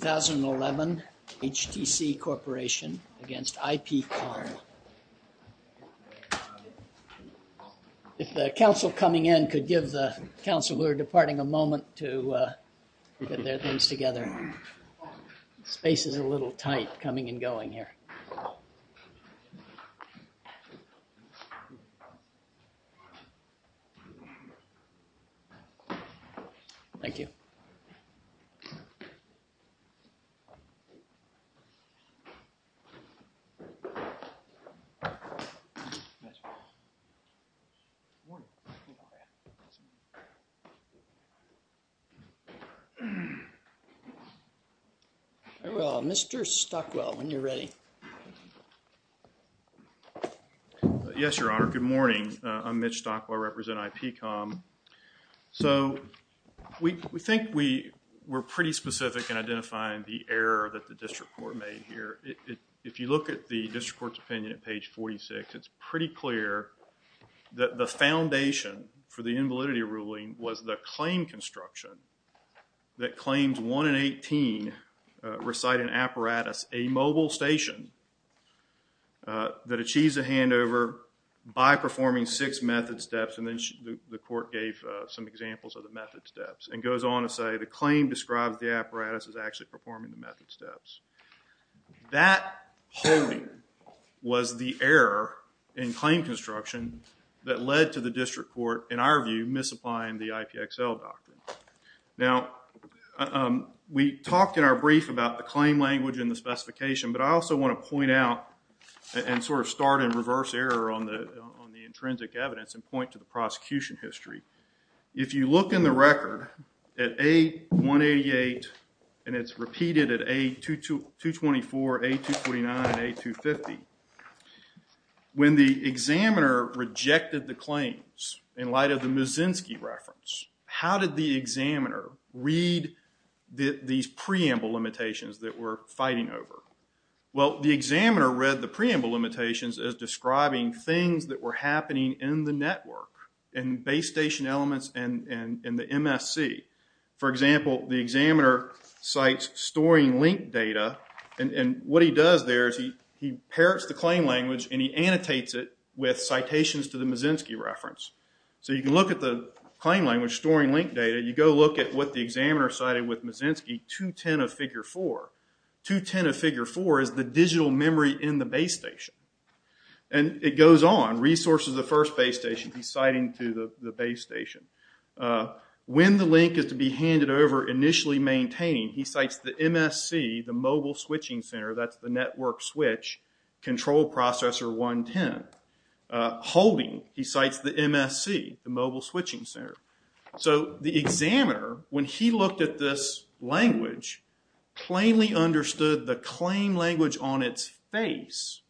2011 HTC Corporation against IPCOM. If the council coming in could give the council who are departing a moment to get their things together. Space is a good morning. Mr. Stockwell, when you're ready. Yes, your honor, good morning. I'm here. I think we're pretty specific in identifying the error that the district court made here. If you look at the district court's opinion at page 46, it's pretty clear that the foundation for the invalidity ruling was the claim construction that claims 1 and 18 recite an apparatus, a mobile station, that achieves a handover by performing six method steps and then the claim describes the apparatus as actually performing the method steps. That was the error in claim construction that led to the district court, in our view, misapplying the IPXL doctrine. Now, we talked in our brief about the claim language and the specification but I also want to point out and sort of start in reverse error on the intrinsic evidence and point to the prosecution history. If you look in the record at A188 and it's repeated at A224, A249, A250, when the examiner rejected the claims in light of the Muszynski reference, how did the examiner read these preamble limitations that we're fighting over? Well, the examiner read the preamble limitations as describing things that were happening in the network and base station elements and the MSC. For example, the examiner cites storing link data and what he does there is he parrots the claim language and he annotates it with citations to the Muszynski reference. So, you can look at the claim language storing link data, you go look at what the examiner cited with Muszynski 210 of figure 4. 210 of figure 4 is the digital memory in the base station and it goes on. Resources of the first base station, he's citing to the base station. When the link is to be handed over, initially maintaining, he cites the MSC, the mobile switching center, that's the network switch, control processor 110. Holding, he cites the MSC, the mobile switching center. So, the examiner, when he put the language on its face,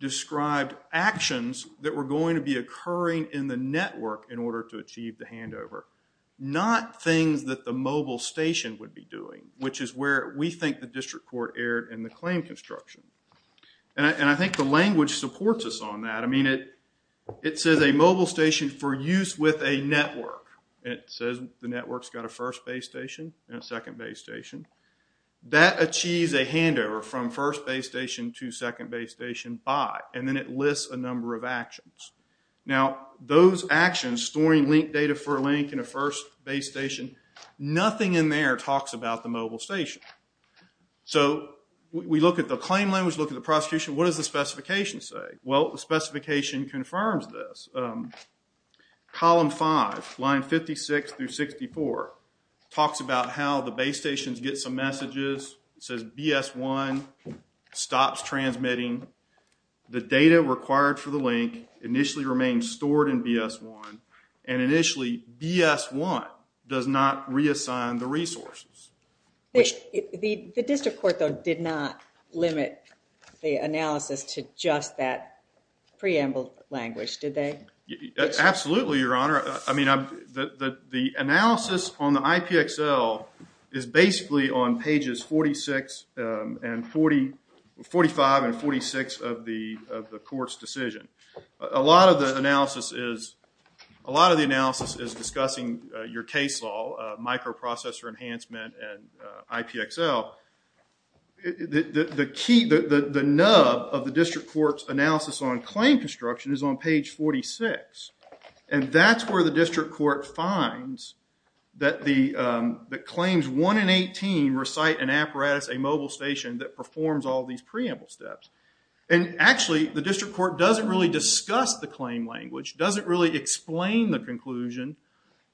described actions that were going to be occurring in the network in order to achieve the handover, not things that the mobile station would be doing, which is where we think the district court erred in the claim construction. And I think the language supports us on that. I mean, it says a mobile station for use with a network. It says the network's got a first base station and a second base station. That achieves a first base station to second base station by, and then it lists a number of actions. Now those actions, storing link data for a link in a first base station, nothing in there talks about the mobile station. So, we look at the claim language, look at the prosecution, what does the specification say? Well, the specification confirms this. Column 5, line 56 through 64 talks about how the base stations get some messages. It says BS1 stops transmitting. The data required for the link initially remains stored in BS1 and initially BS1 does not reassign the resources. The district court, though, did not limit the analysis to just that preamble language, did they? Absolutely, Your Honor. I mean, the analysis on the IPXL is basically on pages 46 and 40, 45 and 46 of the court's decision. A lot of the analysis is, a lot of the analysis is discussing your case law, microprocessor enhancement and IPXL. The key, the nub of the district court's analysis on claim construction is on page 46 and that's where the district court finds that claims 1 and 18 recite an apparatus, a mobile station that performs all these preamble steps. And actually, the district court doesn't really discuss the claim language, doesn't really explain the conclusion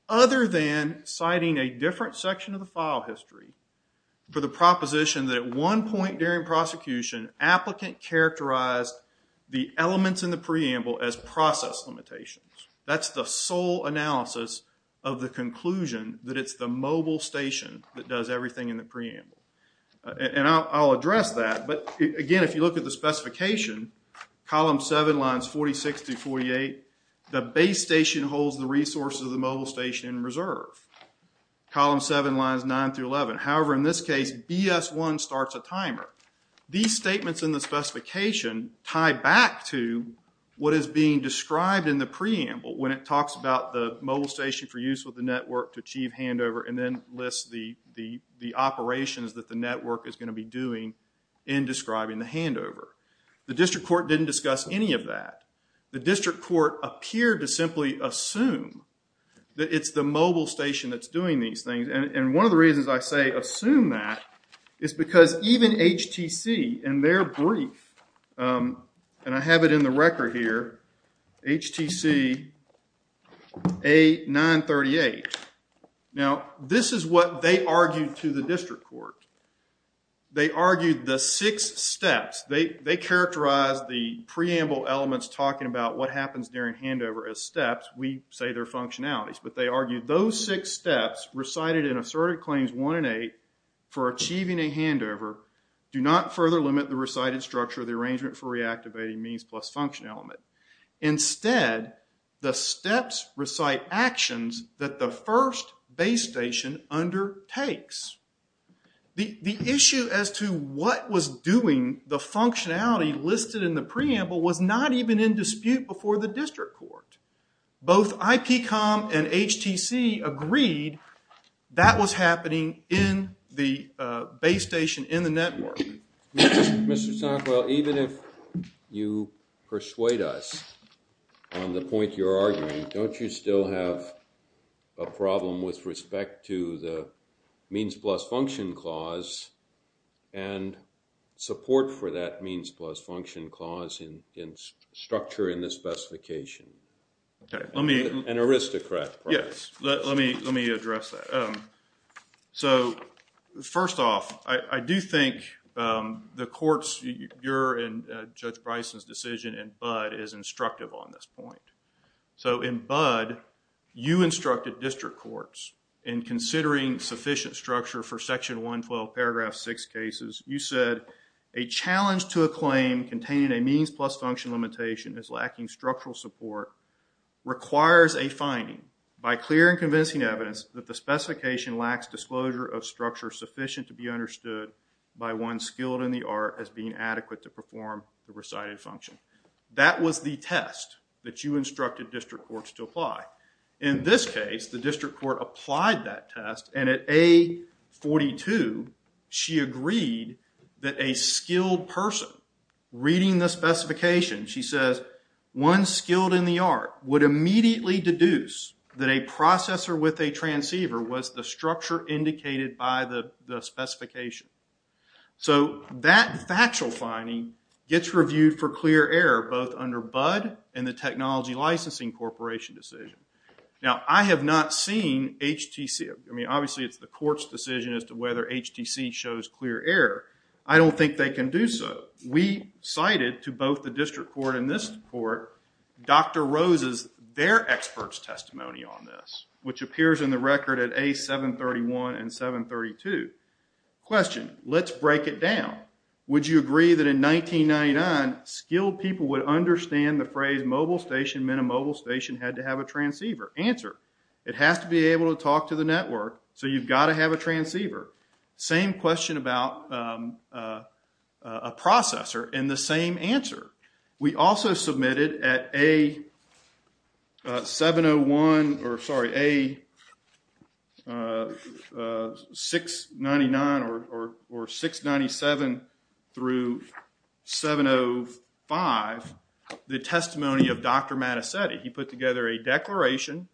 other than citing a application, applicant characterized the elements in the preamble as process limitations. That's the sole analysis of the conclusion that it's the mobile station that does everything in the preamble. And I'll address that, but again, if you look at the specification, column 7, lines 46 through 48, the base station holds the resources of the mobile station in reserve. Column 7, lines 9 through 11. However, in this case, BS1 starts a timer. These statements in the specification tie back to what is being described in the preamble when it talks about the mobile station for use with the network to achieve handover and then lists the operations that the network is going to be doing in describing the handover. The district court didn't discuss any of that. The district court appeared to simply assume that it's the mobile station that's doing these things. And one of the reasons I say assume that is because even HTC in their brief, and I have it in the record here, HTC A938. Now, this is what they argued to the district court. They argued the six steps. They characterized the preamble elements talking about what happens during handover as steps. We say they're functionalities, but they argued those six steps recited in Assertive Claims 1 and 8 for achieving a handover do not further limit the recited structure of the arrangement for reactivating means plus function element. Instead, the steps recite actions that the first base station undertakes. The issue as to what was doing the functionality listed in the preamble was not even in dispute before the district court. Both IPCOM and HTC agreed that was happening in the base station in the network. Mr. Sunkwell, even if you persuade us on the means plus function clause and support for that means plus function clause in structure in the specification. An aristocrat. Yes, let me address that. So, first off, I do think the courts, your and Judge Bryson's decision in Budd is instructive on this point. So, in Budd, you instructed district courts in considering sufficient structure for section 112, paragraph 6 cases. You said, a challenge to a claim containing a means plus function limitation is lacking structural support requires a finding by clear and convincing evidence that the specification lacks disclosure of structure sufficient to be understood by one skilled in the art as being adequate to perform the recited function. That was the test that you instructed district courts to apply. In this case, the district court applied that test and at A42, she agreed that a skilled person reading the specification, she says, one skilled in the art would immediately deduce that a processor with a transceiver was the structure indicated by the specification. So, that factual finding gets reviewed for a technology licensing corporation decision. Now, I have not seen HTC. I mean, obviously, it's the court's decision as to whether HTC shows clear error. I don't think they can do so. We cited to both the district court and this court Dr. Rose's, their expert's testimony on this, which appears in the record at A731 and 732. Question, let's break it down. Answer, it has to be able to talk to the network, so you've got to have a transceiver. Same question about a processor and the same answer. We also submitted at A699 or 697 through 705 the testimony of Dr. Mattacetti. He put together a declaration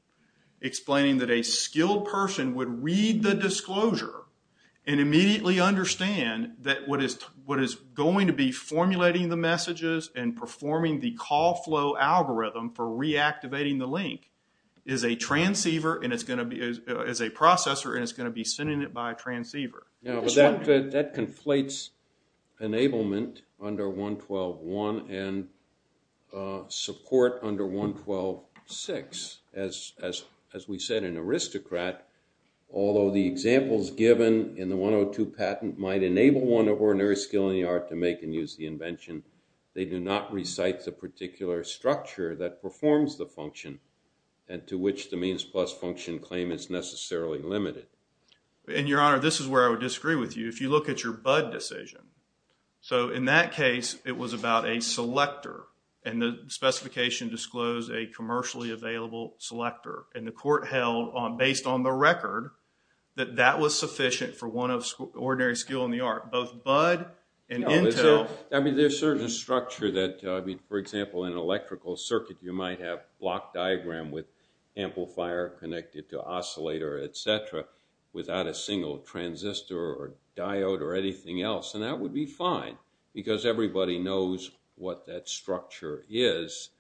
explaining that a skilled person would read the disclosure and immediately understand that what is going to be formulating the messages and performing the call flow algorithm for reactivating the link is a transceiver and it's going to be, is a processor and it's going to be sending it by transceiver. Now, that conflates enablement under 112.1 and support under 112.6. As we said, an aristocrat, although the examples given in the 102 patent might enable one of ordinary skill in the art to make and use the invention, they do not recite the particular structure that performs the function and to which the means plus function claim is necessarily limited. And your honor, this is where I would disagree with you. If you look at your BUD decision. So in that case, it was about a selector and the specification disclosed a commercially available selector and the court held on, based on the record, that that was sufficient for one of ordinary skill in the art. Both BUD and Intel. I mean, there's certain structure that, I mean, for example, in electrical circuit, you might have block diagram with amplifier connected to oscillator, et cetera, without a single transistor or diode or anything else. And that would be fine because everybody knows what that structure is.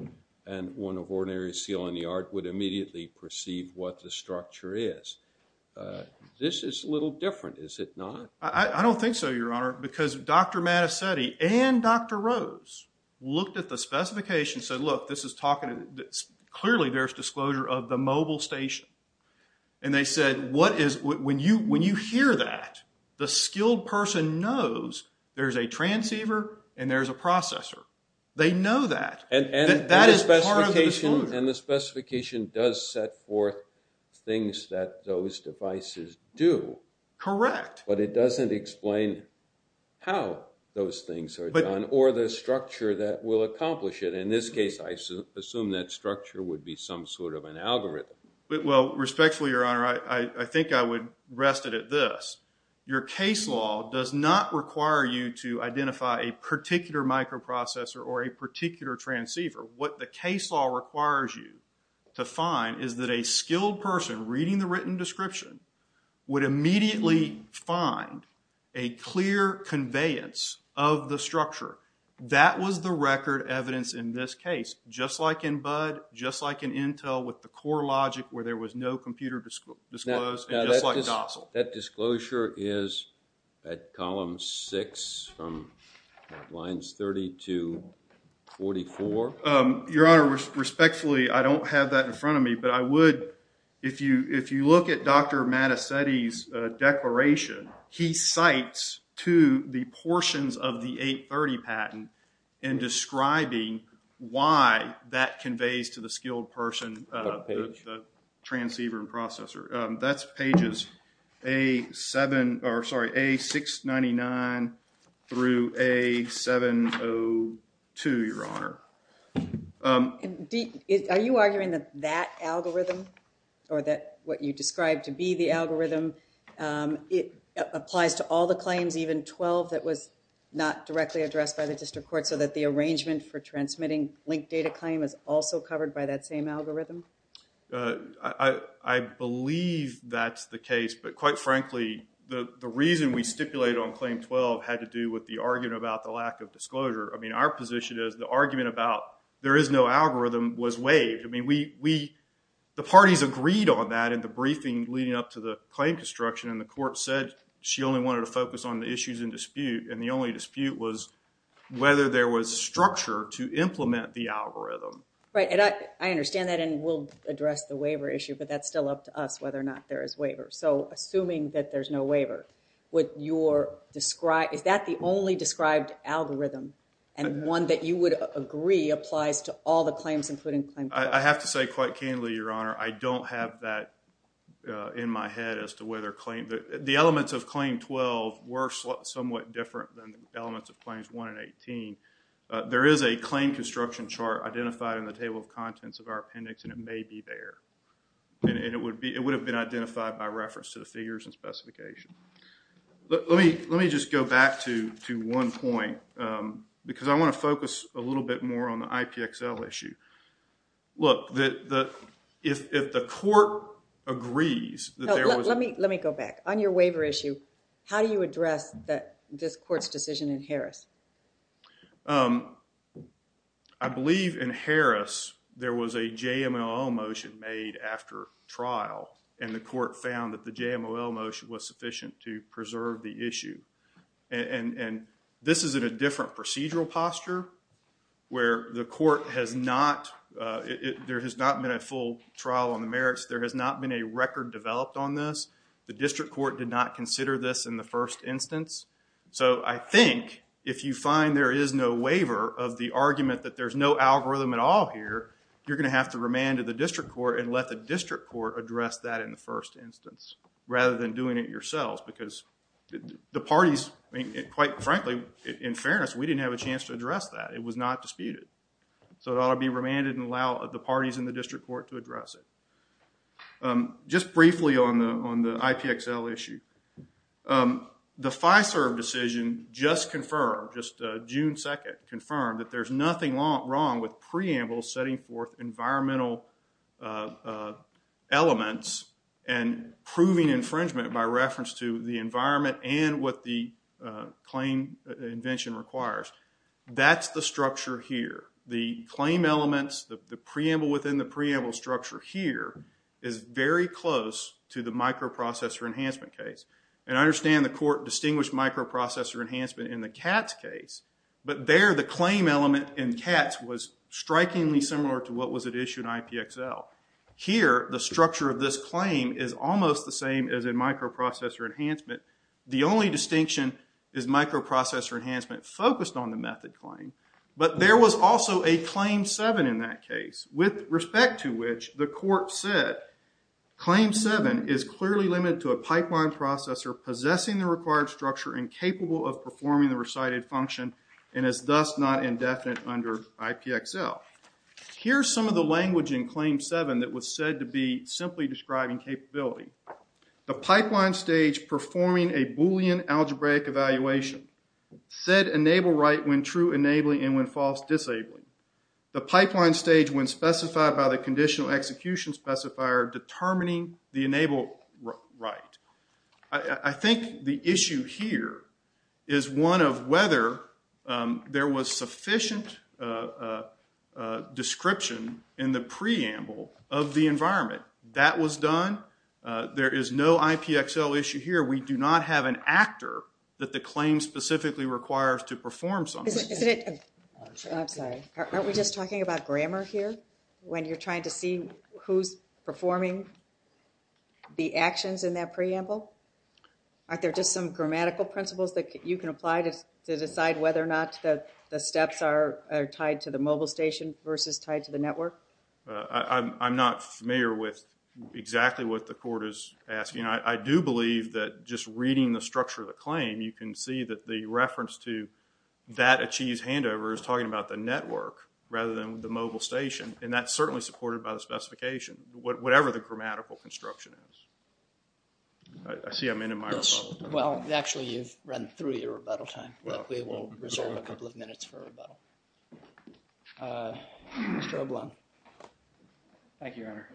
And one of ordinary seal in the art would immediately perceive what the structure is. This is a little different, is it not? I don't think so, your honor, because Dr. Mattesetti and Dr. Rose looked at the specification and said, look, this is talking, clearly there's disclosure of the mobile station. And they said, when you hear that, the skilled person knows there's a transceiver and there's a processor. They know that. That is part of the disclosure. And the specification does set forth things that those devices do. Correct. But it doesn't explain how those things are done or the structure that will accomplish it. In this case, I assume that structure would be some sort of an algorithm. Well, respectfully, your honor, I think I would rest it at this. Your case law does not require you to identify a particular microprocessor or a particular transceiver. What the case law requires you to find is that a skilled person reading the written structure. That was the record evidence in this case, just like in BUD, just like in Intel with the core logic where there was no computer disclosed, and just like Dozzle. That disclosure is at column six from lines 30 to 44. Your honor, respectfully, I don't have that in front of me, but I would, if you look at Dr. Mattesetti's declaration, he cites to the portions of the 830 patent in describing why that conveys to the skilled person the transceiver and processor. That's pages A699 through A702, your honor. Are you arguing that that algorithm or that what you described to be the algorithm, it was not directly addressed by the district court so that the arrangement for transmitting linked data claim is also covered by that same algorithm? I believe that's the case, but quite frankly, the reason we stipulated on claim 12 had to do with the argument about the lack of disclosure. I mean, our position is the argument about there is no algorithm was waived. I mean, the parties agreed on that in the briefing leading up to the claim construction, and the court said she only wanted to focus on the issues in dispute, and the only dispute was whether there was structure to implement the algorithm. Right, and I understand that, and we'll address the waiver issue, but that's still up to us whether or not there is waiver. So, assuming that there's no waiver, is that the only described algorithm, and one that you would agree applies to all the claims including claim 12? I have to say quite candidly, your honor, I don't have that in my head as to whether claim, the elements of claim 12 were somewhat different than the elements of claims 1 and 18. There is a claim construction chart identified in the table of contents of our appendix, and it may be there, and it would have been identified by reference to the figures and specification. Let me just go back to one point, because I want to focus a little bit more on the IPXL issue. Look, if the court agrees that there was... Let me go back. On your waiver issue, how do you address this court's decision in Harris? I believe in Harris, there was a JMOL motion made after trial, and the court found that the JMOL motion was sufficient to preserve the issue, and this is in a different procedural posture, where the court has not... There has not been a full trial on the merits. There has not been a record developed on this. The district court did not consider this in the first instance, so I think if you find there is no waiver of the argument that there's no algorithm at all here, you're going to have to remand to the district court and let the district court address that in the first instance, rather than doing it yourselves, because the parties, quite frankly, in fairness, we didn't have a chance to address that. It was not disputed, so it ought to be remanded and allow the parties in the district court to address it. Just briefly on the IPXL issue, the FISERV decision just confirmed, just June 2nd, confirmed that there's nothing wrong with preambles setting forth environmental elements and proving infringement by reference to the IPXL. The environment and what the claim invention requires, that's the structure here. The claim elements, the preamble within the preamble structure here is very close to the microprocessor enhancement case. I understand the court distinguished microprocessor enhancement in the CATS case, but there the claim element in CATS was strikingly similar to what was at issue in IPXL. Here, the structure of this claim is almost the same as in microprocessor enhancement. The only distinction is microprocessor enhancement focused on the method claim, but there was also a Claim 7 in that case, with respect to which the court said, Claim 7 is clearly limited to a pipeline processor possessing the required structure and capable of performing the recited function and is thus not indefinite under IPXL. Here's some of the language in Claim 7 that was said to be simply describing capability. The pipeline stage performing a Boolean algebraic evaluation. Said enable write when true enabling and when false disabling. The pipeline stage when specified by the conditional execution specifier determining the enable write. I think the issue here is one of whether there was sufficient description in the preamble of the environment. That was done. There is no IPXL issue here. We do not have an actor that the claim specifically requires to perform something. I'm sorry. Aren't we just talking about grammar here when you're trying to see who's performing the actions in that preamble? Aren't there just some grammatical principles that you can apply to decide whether or not the steps are tied to the mobile station versus tied to the network? I'm not familiar with exactly what the court is asking. I do believe that just reading the structure of the claim, you can see that the reference to that achieves handover is talking about the network rather than the mobile station and that's certainly supported by the specification. Whatever the grammatical construction is. I see I'm in a microphone. You've run through your rebuttal time. We will reserve a couple of minutes for rebuttal. Mr. O'Bloin. Thank you, Your Honor.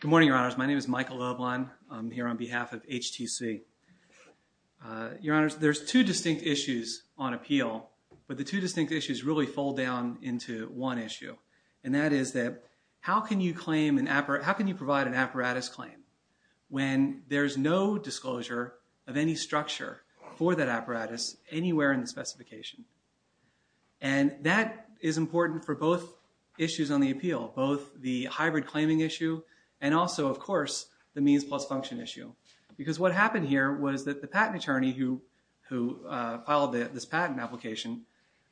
Good morning, Your Honors. My name is Michael O'Bloin. I'm here on behalf of HTC. Your Honors, there's two distinct issues on appeal, but the two distinct issues really fold down into one issue. That is that how can you provide an apparatus claim when there's no disclosure of any structure for that apparatus anywhere in the specification? That is important for both issues on the appeal, both the hybrid claiming issue and also, of course, the means plus function issue. What happened here was that the patent attorney who filed this patent application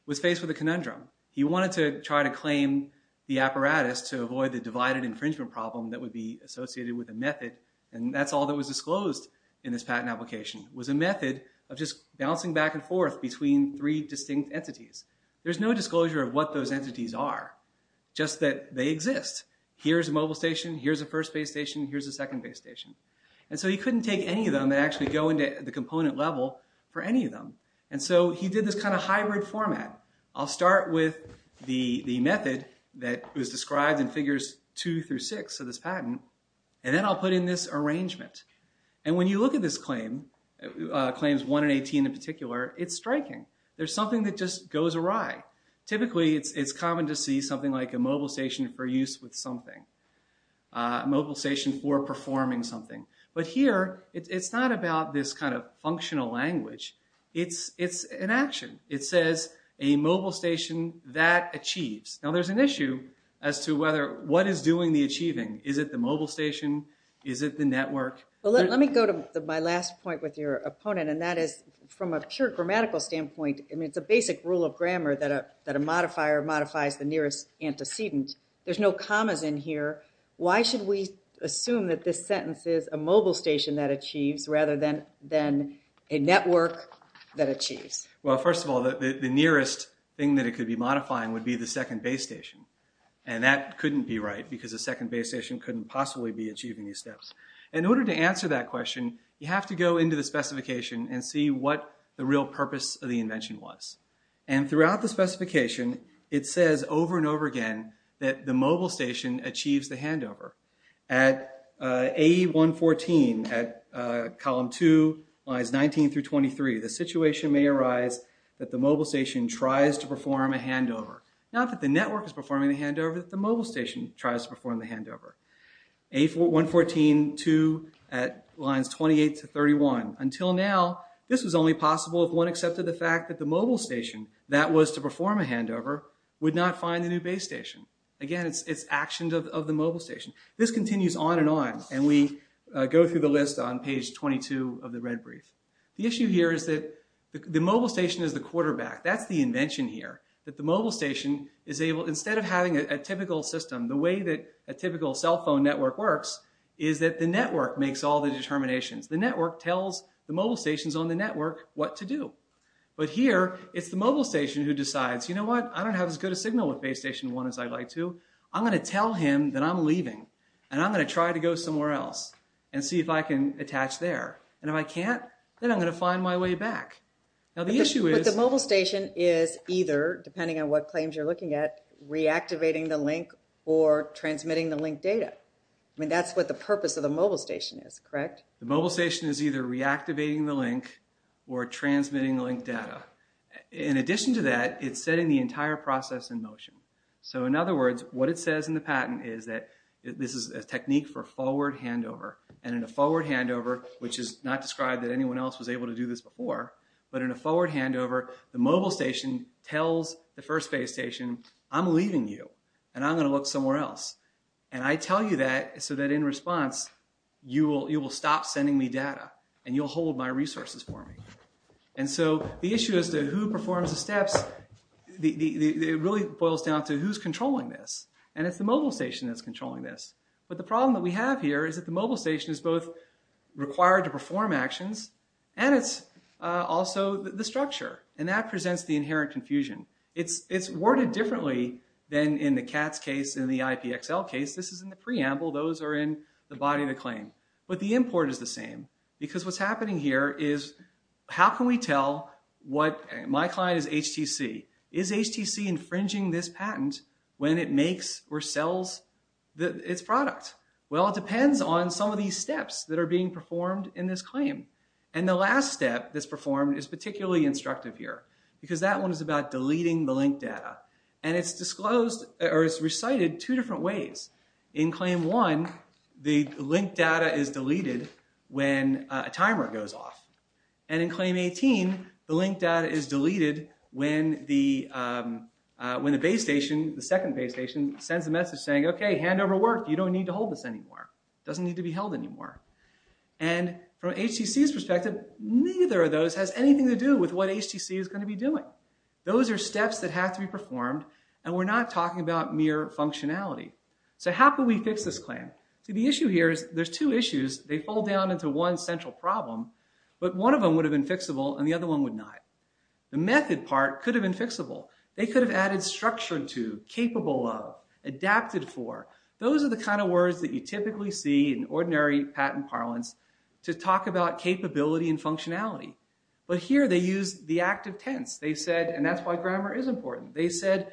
was faced with a conundrum. He wanted to try to claim the apparatus to avoid the divided infringement problem that would be associated with a method and that's all that was disclosed in this patent application was a method of just bouncing back and forth between three distinct entities. There's no disclosure of what those entities are, just that they exist. Here's a mobile station. Here's a first base station. Here's a second base station. He couldn't take any of them and actually go into the component level for any of them. He did this hybrid format. I'll start with the method that was described in figures two through six of this patent and then I'll put in this arrangement. When you look at this claim, claims one and 18 in particular, it's striking. There's something that just goes awry. Typically, it's common to see something like a mobile station for use with something, a mobile station for performing something, but here it's not about this kind of actionable language. It's an action. It says a mobile station that achieves. Now, there's an issue as to whether what is doing the achieving. Is it the mobile station? Is it the network? Let me go to my last point with your opponent and that is from a pure grammatical standpoint, I mean, it's a basic rule of grammar that a modifier modifies the nearest antecedent. There's no commas in here. Why should we assume that this sentence is a mobile station that achieves? Well, first of all, the nearest thing that it could be modifying would be the second base station and that couldn't be right because the second base station couldn't possibly be achieving these steps. In order to answer that question, you have to go into the specification and see what the real purpose of the invention was. Throughout the specification, it says over and over again that the mobile station achieves the handover. At AE 114, at column 2, lines 19 through 23, the situation may arise that the mobile station tries to perform a handover. Not that the network is performing the handover, but the mobile station tries to perform the handover. AE 114, 2, at lines 28 to 31, until now, this was only possible if one accepted the fact that the mobile station that was to perform a handover would not find the new base station. Again, it's actions of the mobile station. This continues on and on and we go through the list on page 22 of the red brief. The issue here is that the mobile station is the quarterback. That's the invention here, that the mobile station is able, instead of having a typical system, the way that a typical cell phone network works is that the network makes all the determinations. The network tells the mobile stations on the network what to do. But here, it's the mobile station who decides, you know what, I don't have as good a signal with base station 1 as I'd like to. I'm going to tell him that I'm leaving and I'm going to try to go somewhere else and see if I can attach there. And if I can't, then I'm going to find my way back. Now, the issue is... But the mobile station is either, depending on what claims you're looking at, reactivating the link or transmitting the link data. I mean, that's what the purpose of the mobile station is, correct? The mobile station is either reactivating the link or transmitting the link data. In addition to that, it's setting the entire process in motion. So, in other words, what it says in the patent is that this is a technique for forward handover. And in a forward handover, which is not described that anyone else was able to do this before, but in a forward handover, the mobile station tells the first base station, I'm leaving you and I'm going to look somewhere else. And I tell you that so that in response, you will stop sending me data and you'll hold my resources for me. And so, the issue as to who performs the steps, it really boils down to who's controlling this. And it's the mobile station that's controlling this. But the problem that we have here is that the mobile station is both required to perform actions and it's also the structure. And that presents the inherent confusion. It's worded differently than in the CATS case and the IPXL case. This is in the preamble. Those are in the body of the claim. But the import is the same. Because what's happening here is, how can we tell what... Is HTC infringing this patent when it makes or sells its product? Well, it depends on some of these steps that are being performed in this claim. And the last step that's performed is particularly instructive here, because that one is about deleting the link data. And it's disclosed or it's recited two different ways. In claim one, the link data is deleted when a timer goes off. And in claim 18, the link data is deleted when the base station, the second base station, sends a message saying, okay, hand over work. You don't need to hold this anymore. It doesn't need to be held anymore. And from HTC's perspective, neither of those has anything to do with what HTC is going to be doing. Those are steps that have to be performed and we're not talking about mere functionality. So how can we fix this claim? See, the issue here is, there's two issues. They fall down into one central problem, but one of them would have been fixable and the other one would not. The method part could have been fixable. They could have added structured to, capable of, adapted for. Those are the kind of words that you typically see in ordinary patent parlance to talk about capability and functionality. But here they use the active tense. They said, and that's why grammar is important. They said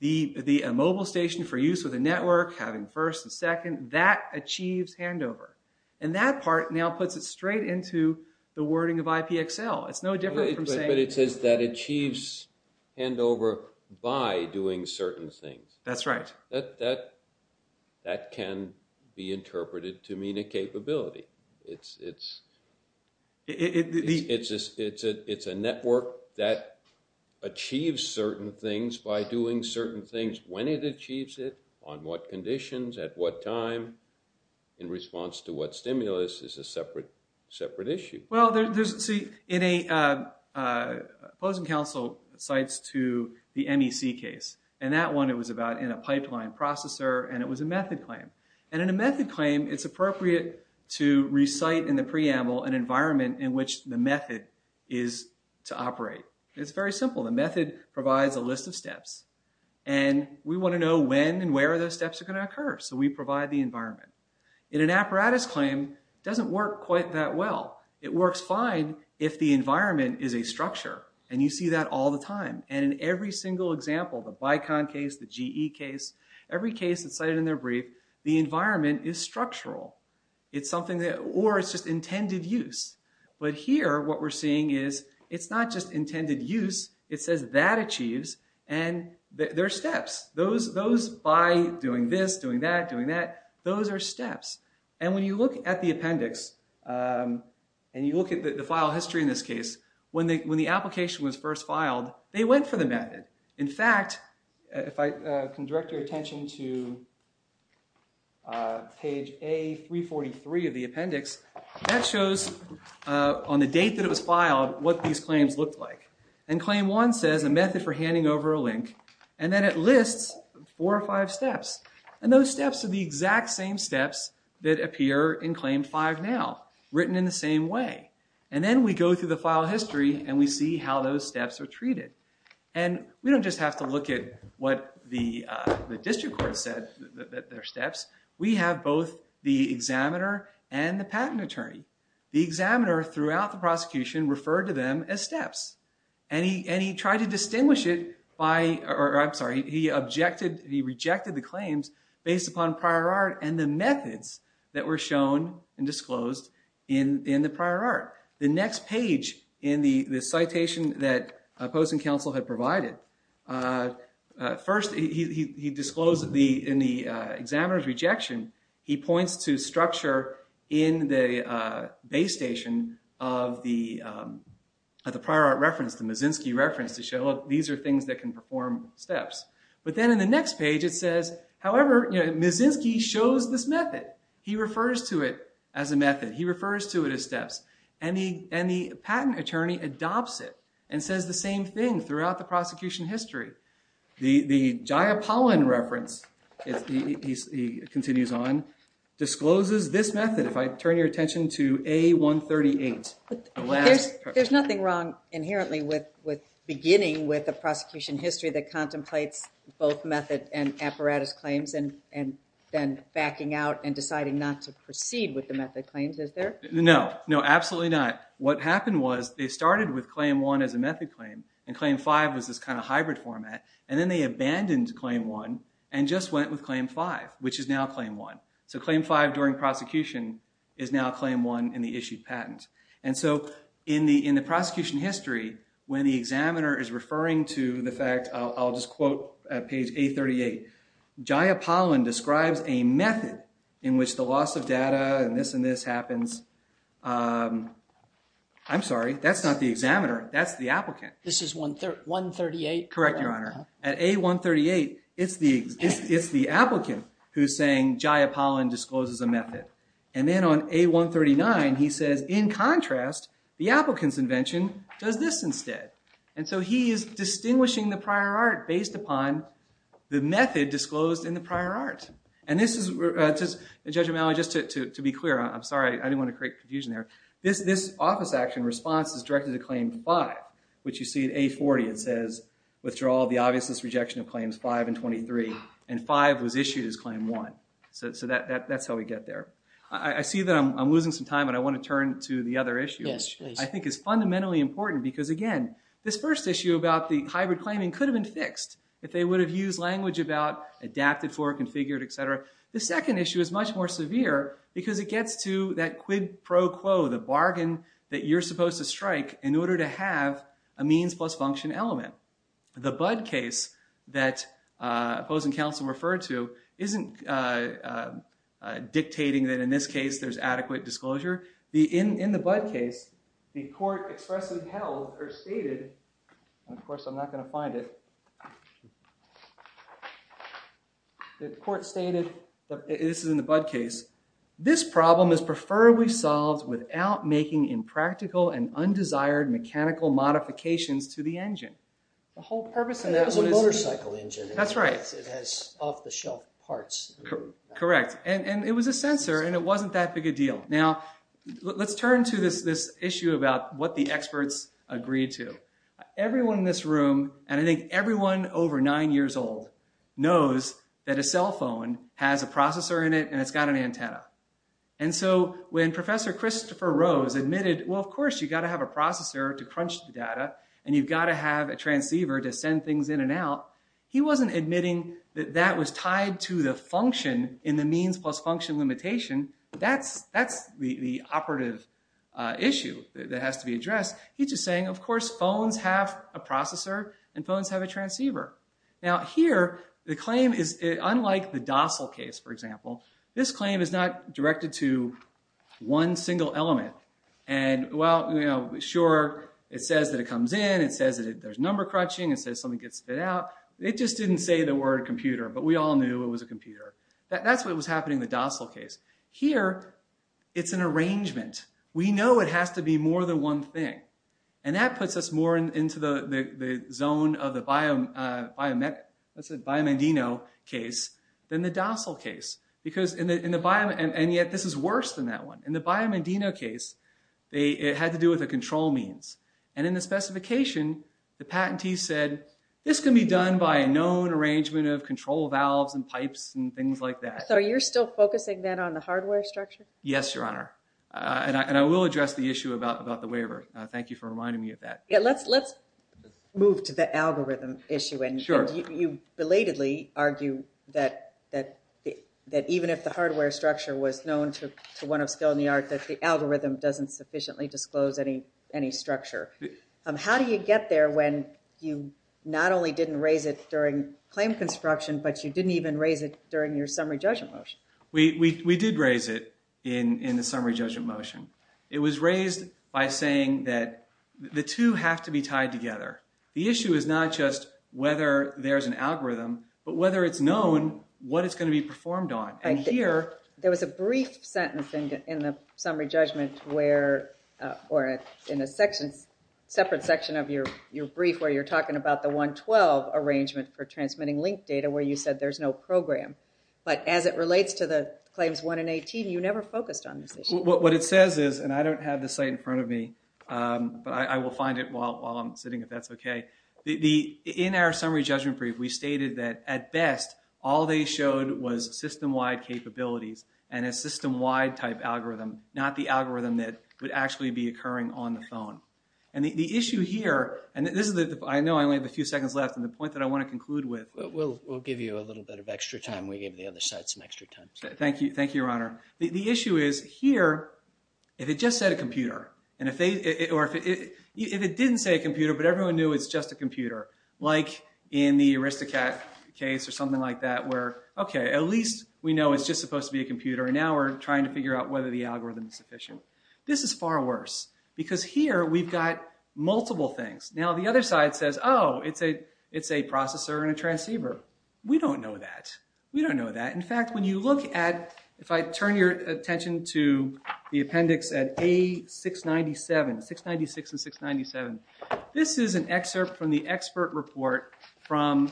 the mobile station for use with a network, having first and second, that achieves handover. And that part now puts it straight into the wording of IPXL. It's no different from saying- But it says that achieves handover by doing certain things. That's right. That can be interpreted to mean a capability. It's a network that achieves certain things by doing certain things when it achieves it, on what conditions, at what time, in response to what stimulus is a separate issue. Well, there's, see, in a, Pozen Council cites to the MEC case, and that one it was about in a pipeline processor and it was a method claim. And in a method claim, it's appropriate to recite in the preamble an environment in which the method is to operate. It's very simple steps. And we want to know when and where those steps are going to occur. So we provide the environment. In an apparatus claim, it doesn't work quite that well. It works fine if the environment is a structure. And you see that all the time. And in every single example, the BICON case, the GE case, every case that's cited in their brief, the environment is structural. It's something that, or it's just intended use. But here, what we're seeing is it's not just a method claim. There are steps. Those by doing this, doing that, doing that, those are steps. And when you look at the appendix, and you look at the file history in this case, when the application was first filed, they went for the method. In fact, if I can direct your attention to page A343 of the appendix, that shows on the date that it was filed, what these claims looked like. And claim one says a method for handing over a link. And then it lists four or five steps. And those steps are the exact same steps that appear in claim five now, written in the same way. And then we go through the file history, and we see how those steps are treated. And we don't just have to look at what the district court said, their steps. We have both the examiner and the patent attorney. The examiner, throughout the prosecution, referred to them as steps. And he tried to distinguish it by, or I'm sorry, he objected, he rejected the claims based upon prior art and the methods that were shown and disclosed in the prior art. The next page in the citation that Post and Counsel had provided, first he disclosed in the examiner's rejection, he points to structure in the base station of the prior art reference, the Mazinski reference, to show these are things that can perform steps. But then in the next page it says, however, Mazinski shows this method. He refers to it as a method. He refers to it as steps. And the patent attorney adopts it and says the same thing throughout the prosecution history. The Jayapalan reference, he continues on, discloses this method, if I turn your attention to A138. There's nothing wrong inherently with beginning with the prosecution history that contemplates both method and apparatus claims and then backing out and deciding not to proceed with the method claims, is there? No, no, absolutely not. What happened was they started with claim one as a method claim and claim five was this kind of hybrid format. And then they abandoned claim one and just went with claim five, which is now claim one. So claim five during prosecution is now claim one in the issued patent. And so in the prosecution history, when the examiner is referring to the fact, I'll just quote page A38, Jayapalan describes a method in which the loss of data and this and this happens. I'm sorry, that's not the examiner, that's the applicant. This is 138? Correct, Your Honor. At A138, it's the applicant who's saying Jayapalan discloses a method. And then on A139, he says, in contrast, the applicant's invention does this instead. And so he is distinguishing the prior art based upon the method disclosed in the prior art. And this is, Judge O'Malley, just to be clear, I'm sorry, I didn't want to create confusion there. This office action response is directed to claim five, which you see at A40. It says, withdraw the obviousness rejection of claims five and 23. And five was issued as claim one. So that's how we get there. I see that I'm losing some time and I want to turn to the other issue, which I think is fundamentally important. Because again, this first issue about the hybrid claiming could have been fixed if they would have used language about adapted for, configured, et cetera. The second issue is much more severe because it gets to that quid pro quo, the bargain that you're supposed to strike in order to have a means plus function element. The Budd case that opposing counsel referred to isn't dictating that in this case there's adequate disclosure. In the Budd case, the court expressly held or stated, and of course I'm not going to find it. The court stated, this is in the Budd case. This problem is preferably solved without making impractical and undesired mechanical modifications to the engine. The whole purpose of that was a motorcycle engine. That's right. It has off the shelf parts. Correct. And it was a sensor and it wasn't that big a deal. Now, let's turn to this issue about what the experts agreed to. Everyone in this room, and I think everyone over nine years old, knows that a cell phone has a processor in it and it's got an antenna. And so when Professor Christopher Rose admitted, well, of course, you got to have a processor to crunch the data and you've got to have a transceiver to send things in and out. He wasn't admitting that that was tied to the function in the means plus function limitation. That's the operative issue that has to be addressed. He's just saying, of course, phones have a processor and phones have a transceiver. Here, the claim is unlike the DOSL case, for example, this claim is not directed to one single element. Sure, it says that it comes in, it says that there's number crunching, it says something gets spit out. It just didn't say the word computer, but we all knew it was a computer. That's what was happening in the DOSL case. Here, it's an arrangement. We know it has to be more than one thing. And that puts us more into the zone of the Biomendino case than the DOSL case. And yet this is worse than that one. In the Biomendino case, it had to do with the control means. And in the specification, the patentee said, this can be done by a known arrangement of control valves and pipes and things like that. So you're still focusing then on the hardware structure? Yes, Your Honor. And I will address the issue about the waiver. Thank you for reminding me of that. Let's move to the algorithm issue. You belatedly argue that even if the hardware structure was known to one of skill and the art, that the algorithm doesn't sufficiently disclose any structure. How do you get there when you not only didn't raise it during claim construction, but you didn't even raise it during your summary judgment motion? We did raise it in the summary judgment motion. It was raised by saying that the two have to be tied together. The issue is not just whether there's an algorithm, but whether it's known what it's going to be performed on. And here, there was a brief sentence in the summary judgment where, or in a separate section of your brief where you're talking about the 112 arrangement for transmitting link data where you said there's no program. But as it relates to the claims 1 and 18, you never focused on this issue. What it says is, and I don't have the site in front of me, but I will find it while I'm sitting if that's okay. In our summary judgment brief, we stated that at best, all they showed was system-wide capabilities and a system-wide type algorithm, not the algorithm that would actually be occurring on the phone. And the issue here, and I know I only have a few seconds left, and the point that I want to conclude with. We'll give you a little bit of extra time. We gave the other side some extra time. Thank you, Your Honor. The issue is here, if it just said a computer, or if it didn't say a computer, but everyone knew it's just a computer, like in the Aristocat case or something like that where, okay, at least we know it's just supposed to be a computer, and now we're trying to figure out whether the algorithm is sufficient. This is far worse, because here, we've got a processor and a transceiver. We don't know that. We don't know that. In fact, when you look at, if I turn your attention to the appendix at A697, 696 and 697, this is an excerpt from the expert report from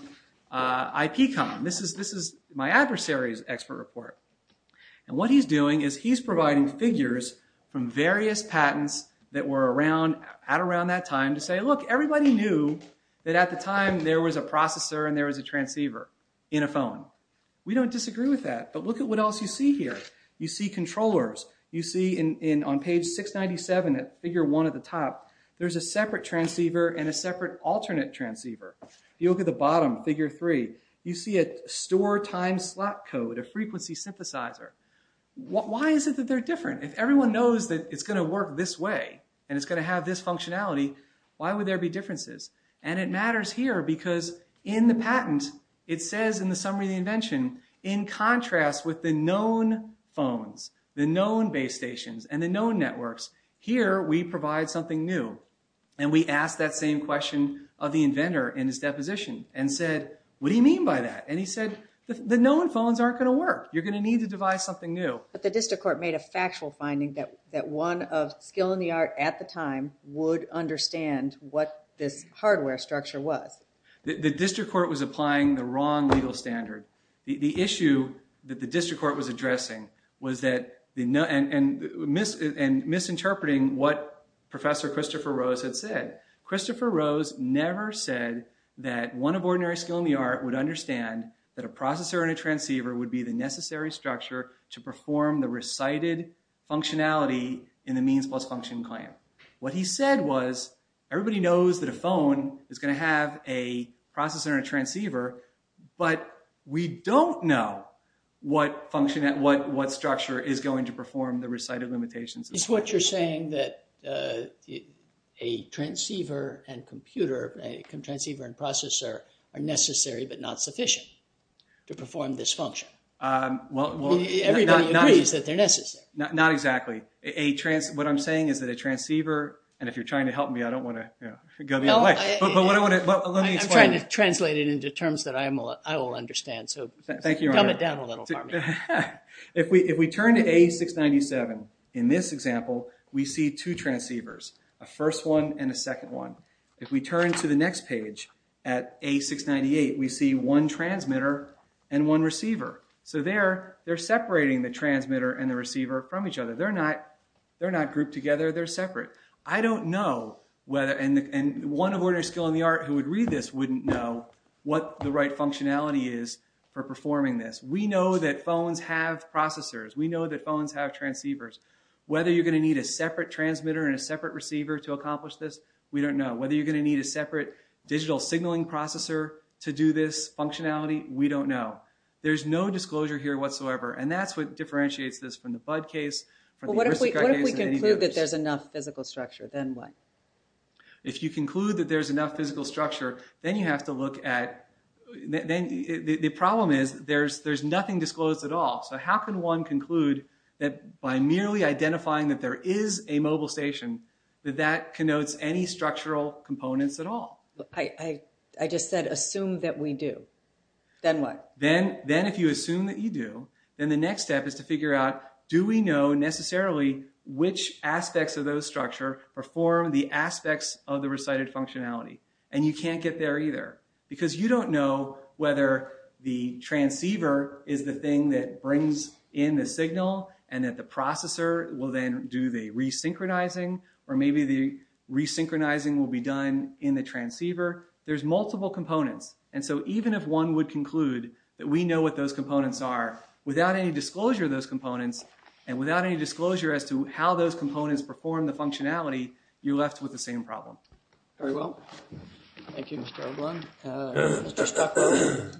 IPCOM. This is my adversary's expert report, and what he's doing is he's providing figures from various patents that were around at around that time to say, look, everybody knew that at the time there was a processor and there was a transceiver in a phone. We don't disagree with that, but look at what else you see here. You see controllers. You see on page 697 at figure one at the top, there's a separate transceiver and a separate alternate transceiver. You look at the bottom, figure three. You see a store time slot code, a frequency synthesizer. Why is it that they're different? If everyone knows that it's going to work this way and it's going to have this functionality, why would there be differences? It matters here because in the patent, it says in the summary of the invention, in contrast with the known phones, the known base stations and the known networks, here we provide something new. We asked that same question of the inventor in his deposition and said, what do you mean by that? He said, the known phones aren't going to work. You're going to need to devise something new. But the district court made a factual finding that one of skill in the art at the time would understand what this hardware structure was. The district court was applying the wrong legal standard. The issue that the district court was addressing was that, and misinterpreting what Professor Christopher Rose had said. Christopher Rose never said that one of ordinary skill in the art would understand that a processor and a transceiver would be the necessary structure to perform the recited functionality in the means plus function claim. What he said was, everybody knows that a phone is going to have a processor and a transceiver, but we don't know what structure is going to perform the recited limitations. It's what you're saying that a transceiver and computer, a transceiver and processor are necessary but not sufficient to perform this function. Everybody agrees that they're necessary. Not exactly. What I'm saying is that a transceiver, and if you're trying to help me, I don't want to go the other way, but what I want to, let me explain. I'm trying to translate it into terms that I will understand, so dumb it down a little for me. If we turn to A697, in this example, we see two transceivers, a first one and a second one. If we turn to the next page, at A698, we see one transmitter and one receiver, so they're separating the transmitter and the receiver from each other. They're not grouped together, they're separate. I don't know whether, and one of order skill in the art who would read this wouldn't know what the right functionality is for performing this. We know that phones have processors. We know that phones have transceivers. Whether you're going to need a separate transmitter and a separate receiver to accomplish this, we don't know. Whether you're going to need a separate digital signaling processor to do this functionality, we don't know. There's no disclosure here whatsoever, and that's what differentiates this from the Bud case, from the Ursica case. What if we conclude that there's enough physical structure, then what? If you conclude that there's enough physical structure, then you have to look at, the problem is there's nothing disclosed at all, so how can one conclude that by merely identifying that there is a mobile station, that that connotes any structural components at all? I just said, assume that we do, then what? Then if you assume that you do, then the next step is to figure out, do we know necessarily which aspects of those structure perform the aspects of the recited functionality? You can't get there either, because you don't know whether the transceiver is the thing that brings in the signal, and that the processor will then do the re-synchronizing, or maybe the re-synchronizing will be done in the transceiver. There's multiple components, and so even if one would conclude that we know what those components are, without any disclosure of those components, and without any disclosure as to how those components perform the functionality, you're left with the same problem. Very well. Thank you, Mr. O'Brien. Mr. Stockwell?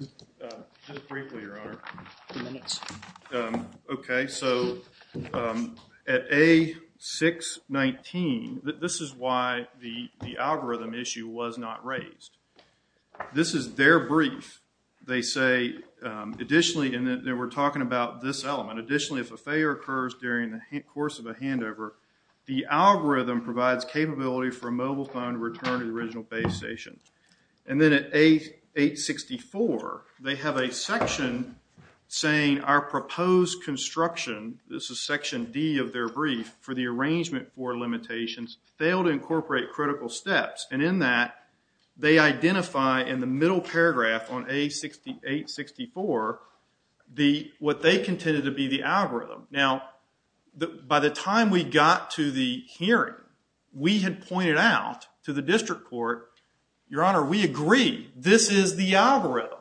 Just briefly, Your Honor. Two minutes. Okay. So, at A619, this is why the algorithm issue was not raised. This is their brief. They say, additionally, and we're talking about this element, additionally, if a failure occurs during the course of a handover, the algorithm provides capability for a mobile phone to return to the original base station. And then at A864, they have a section saying, our proposed construction, this is section D of their brief, for the arrangement for limitations, failed to incorporate critical steps. And in that, they identify in the middle paragraph on A864, what they contended to be the algorithm. Now, by the time we got to the hearing, we had pointed out to the district court, Your Honor, we agree, this is the algorithm.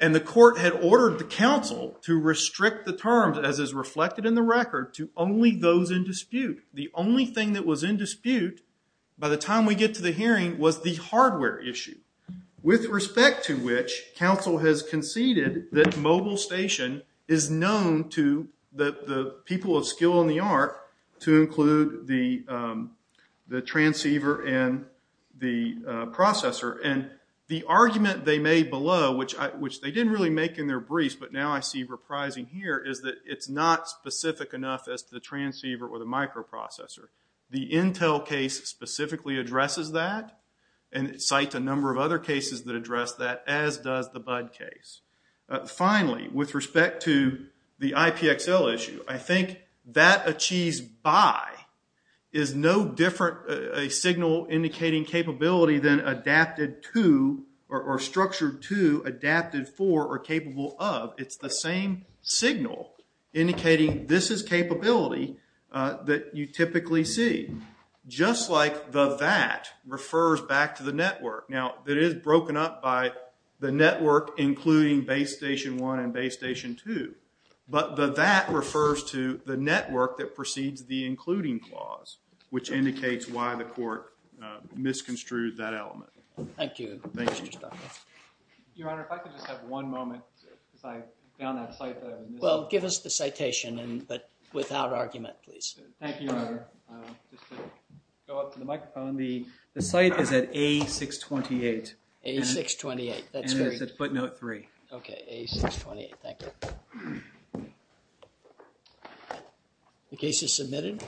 And the court had ordered the counsel to restrict the terms, as is reflected in the record, to only those in dispute. The only thing that was in dispute, by the time we get to the hearing, was the hardware issue. With respect to which, counsel has conceded that mobile station is known to the people of skill and the art to include the transceiver and the processor. And the argument they made below, which they didn't really make in their briefs, but now I see reprising here, is that it's not specific enough as to the transceiver or the microprocessor. The Intel case specifically addresses that, and it cites a number of other cases that address that, as does the Bud case. Finally, with respect to the IPXL issue, I think that achieves by, is no different, a signal indicating capability than adapted to, or structured to, adapted for, or capable of. It's the same signal indicating this is capability that you typically see. Just like the that refers back to the network. Now it is broken up by the network, including base station one and base station two. But the that refers to the network that precedes the including clause, which indicates why the court misconstrued that element. Thank you. Thank you. Your Honor, if I could just have one moment, because I found that site that I was missing. Well, give us the citation, but without argument, please. Thank you, Your Honor. Just to go up to the microphone, the site is at A628. A628, that's correct. And it's at footnote three. Okay, A628, thank you. The case is submitted.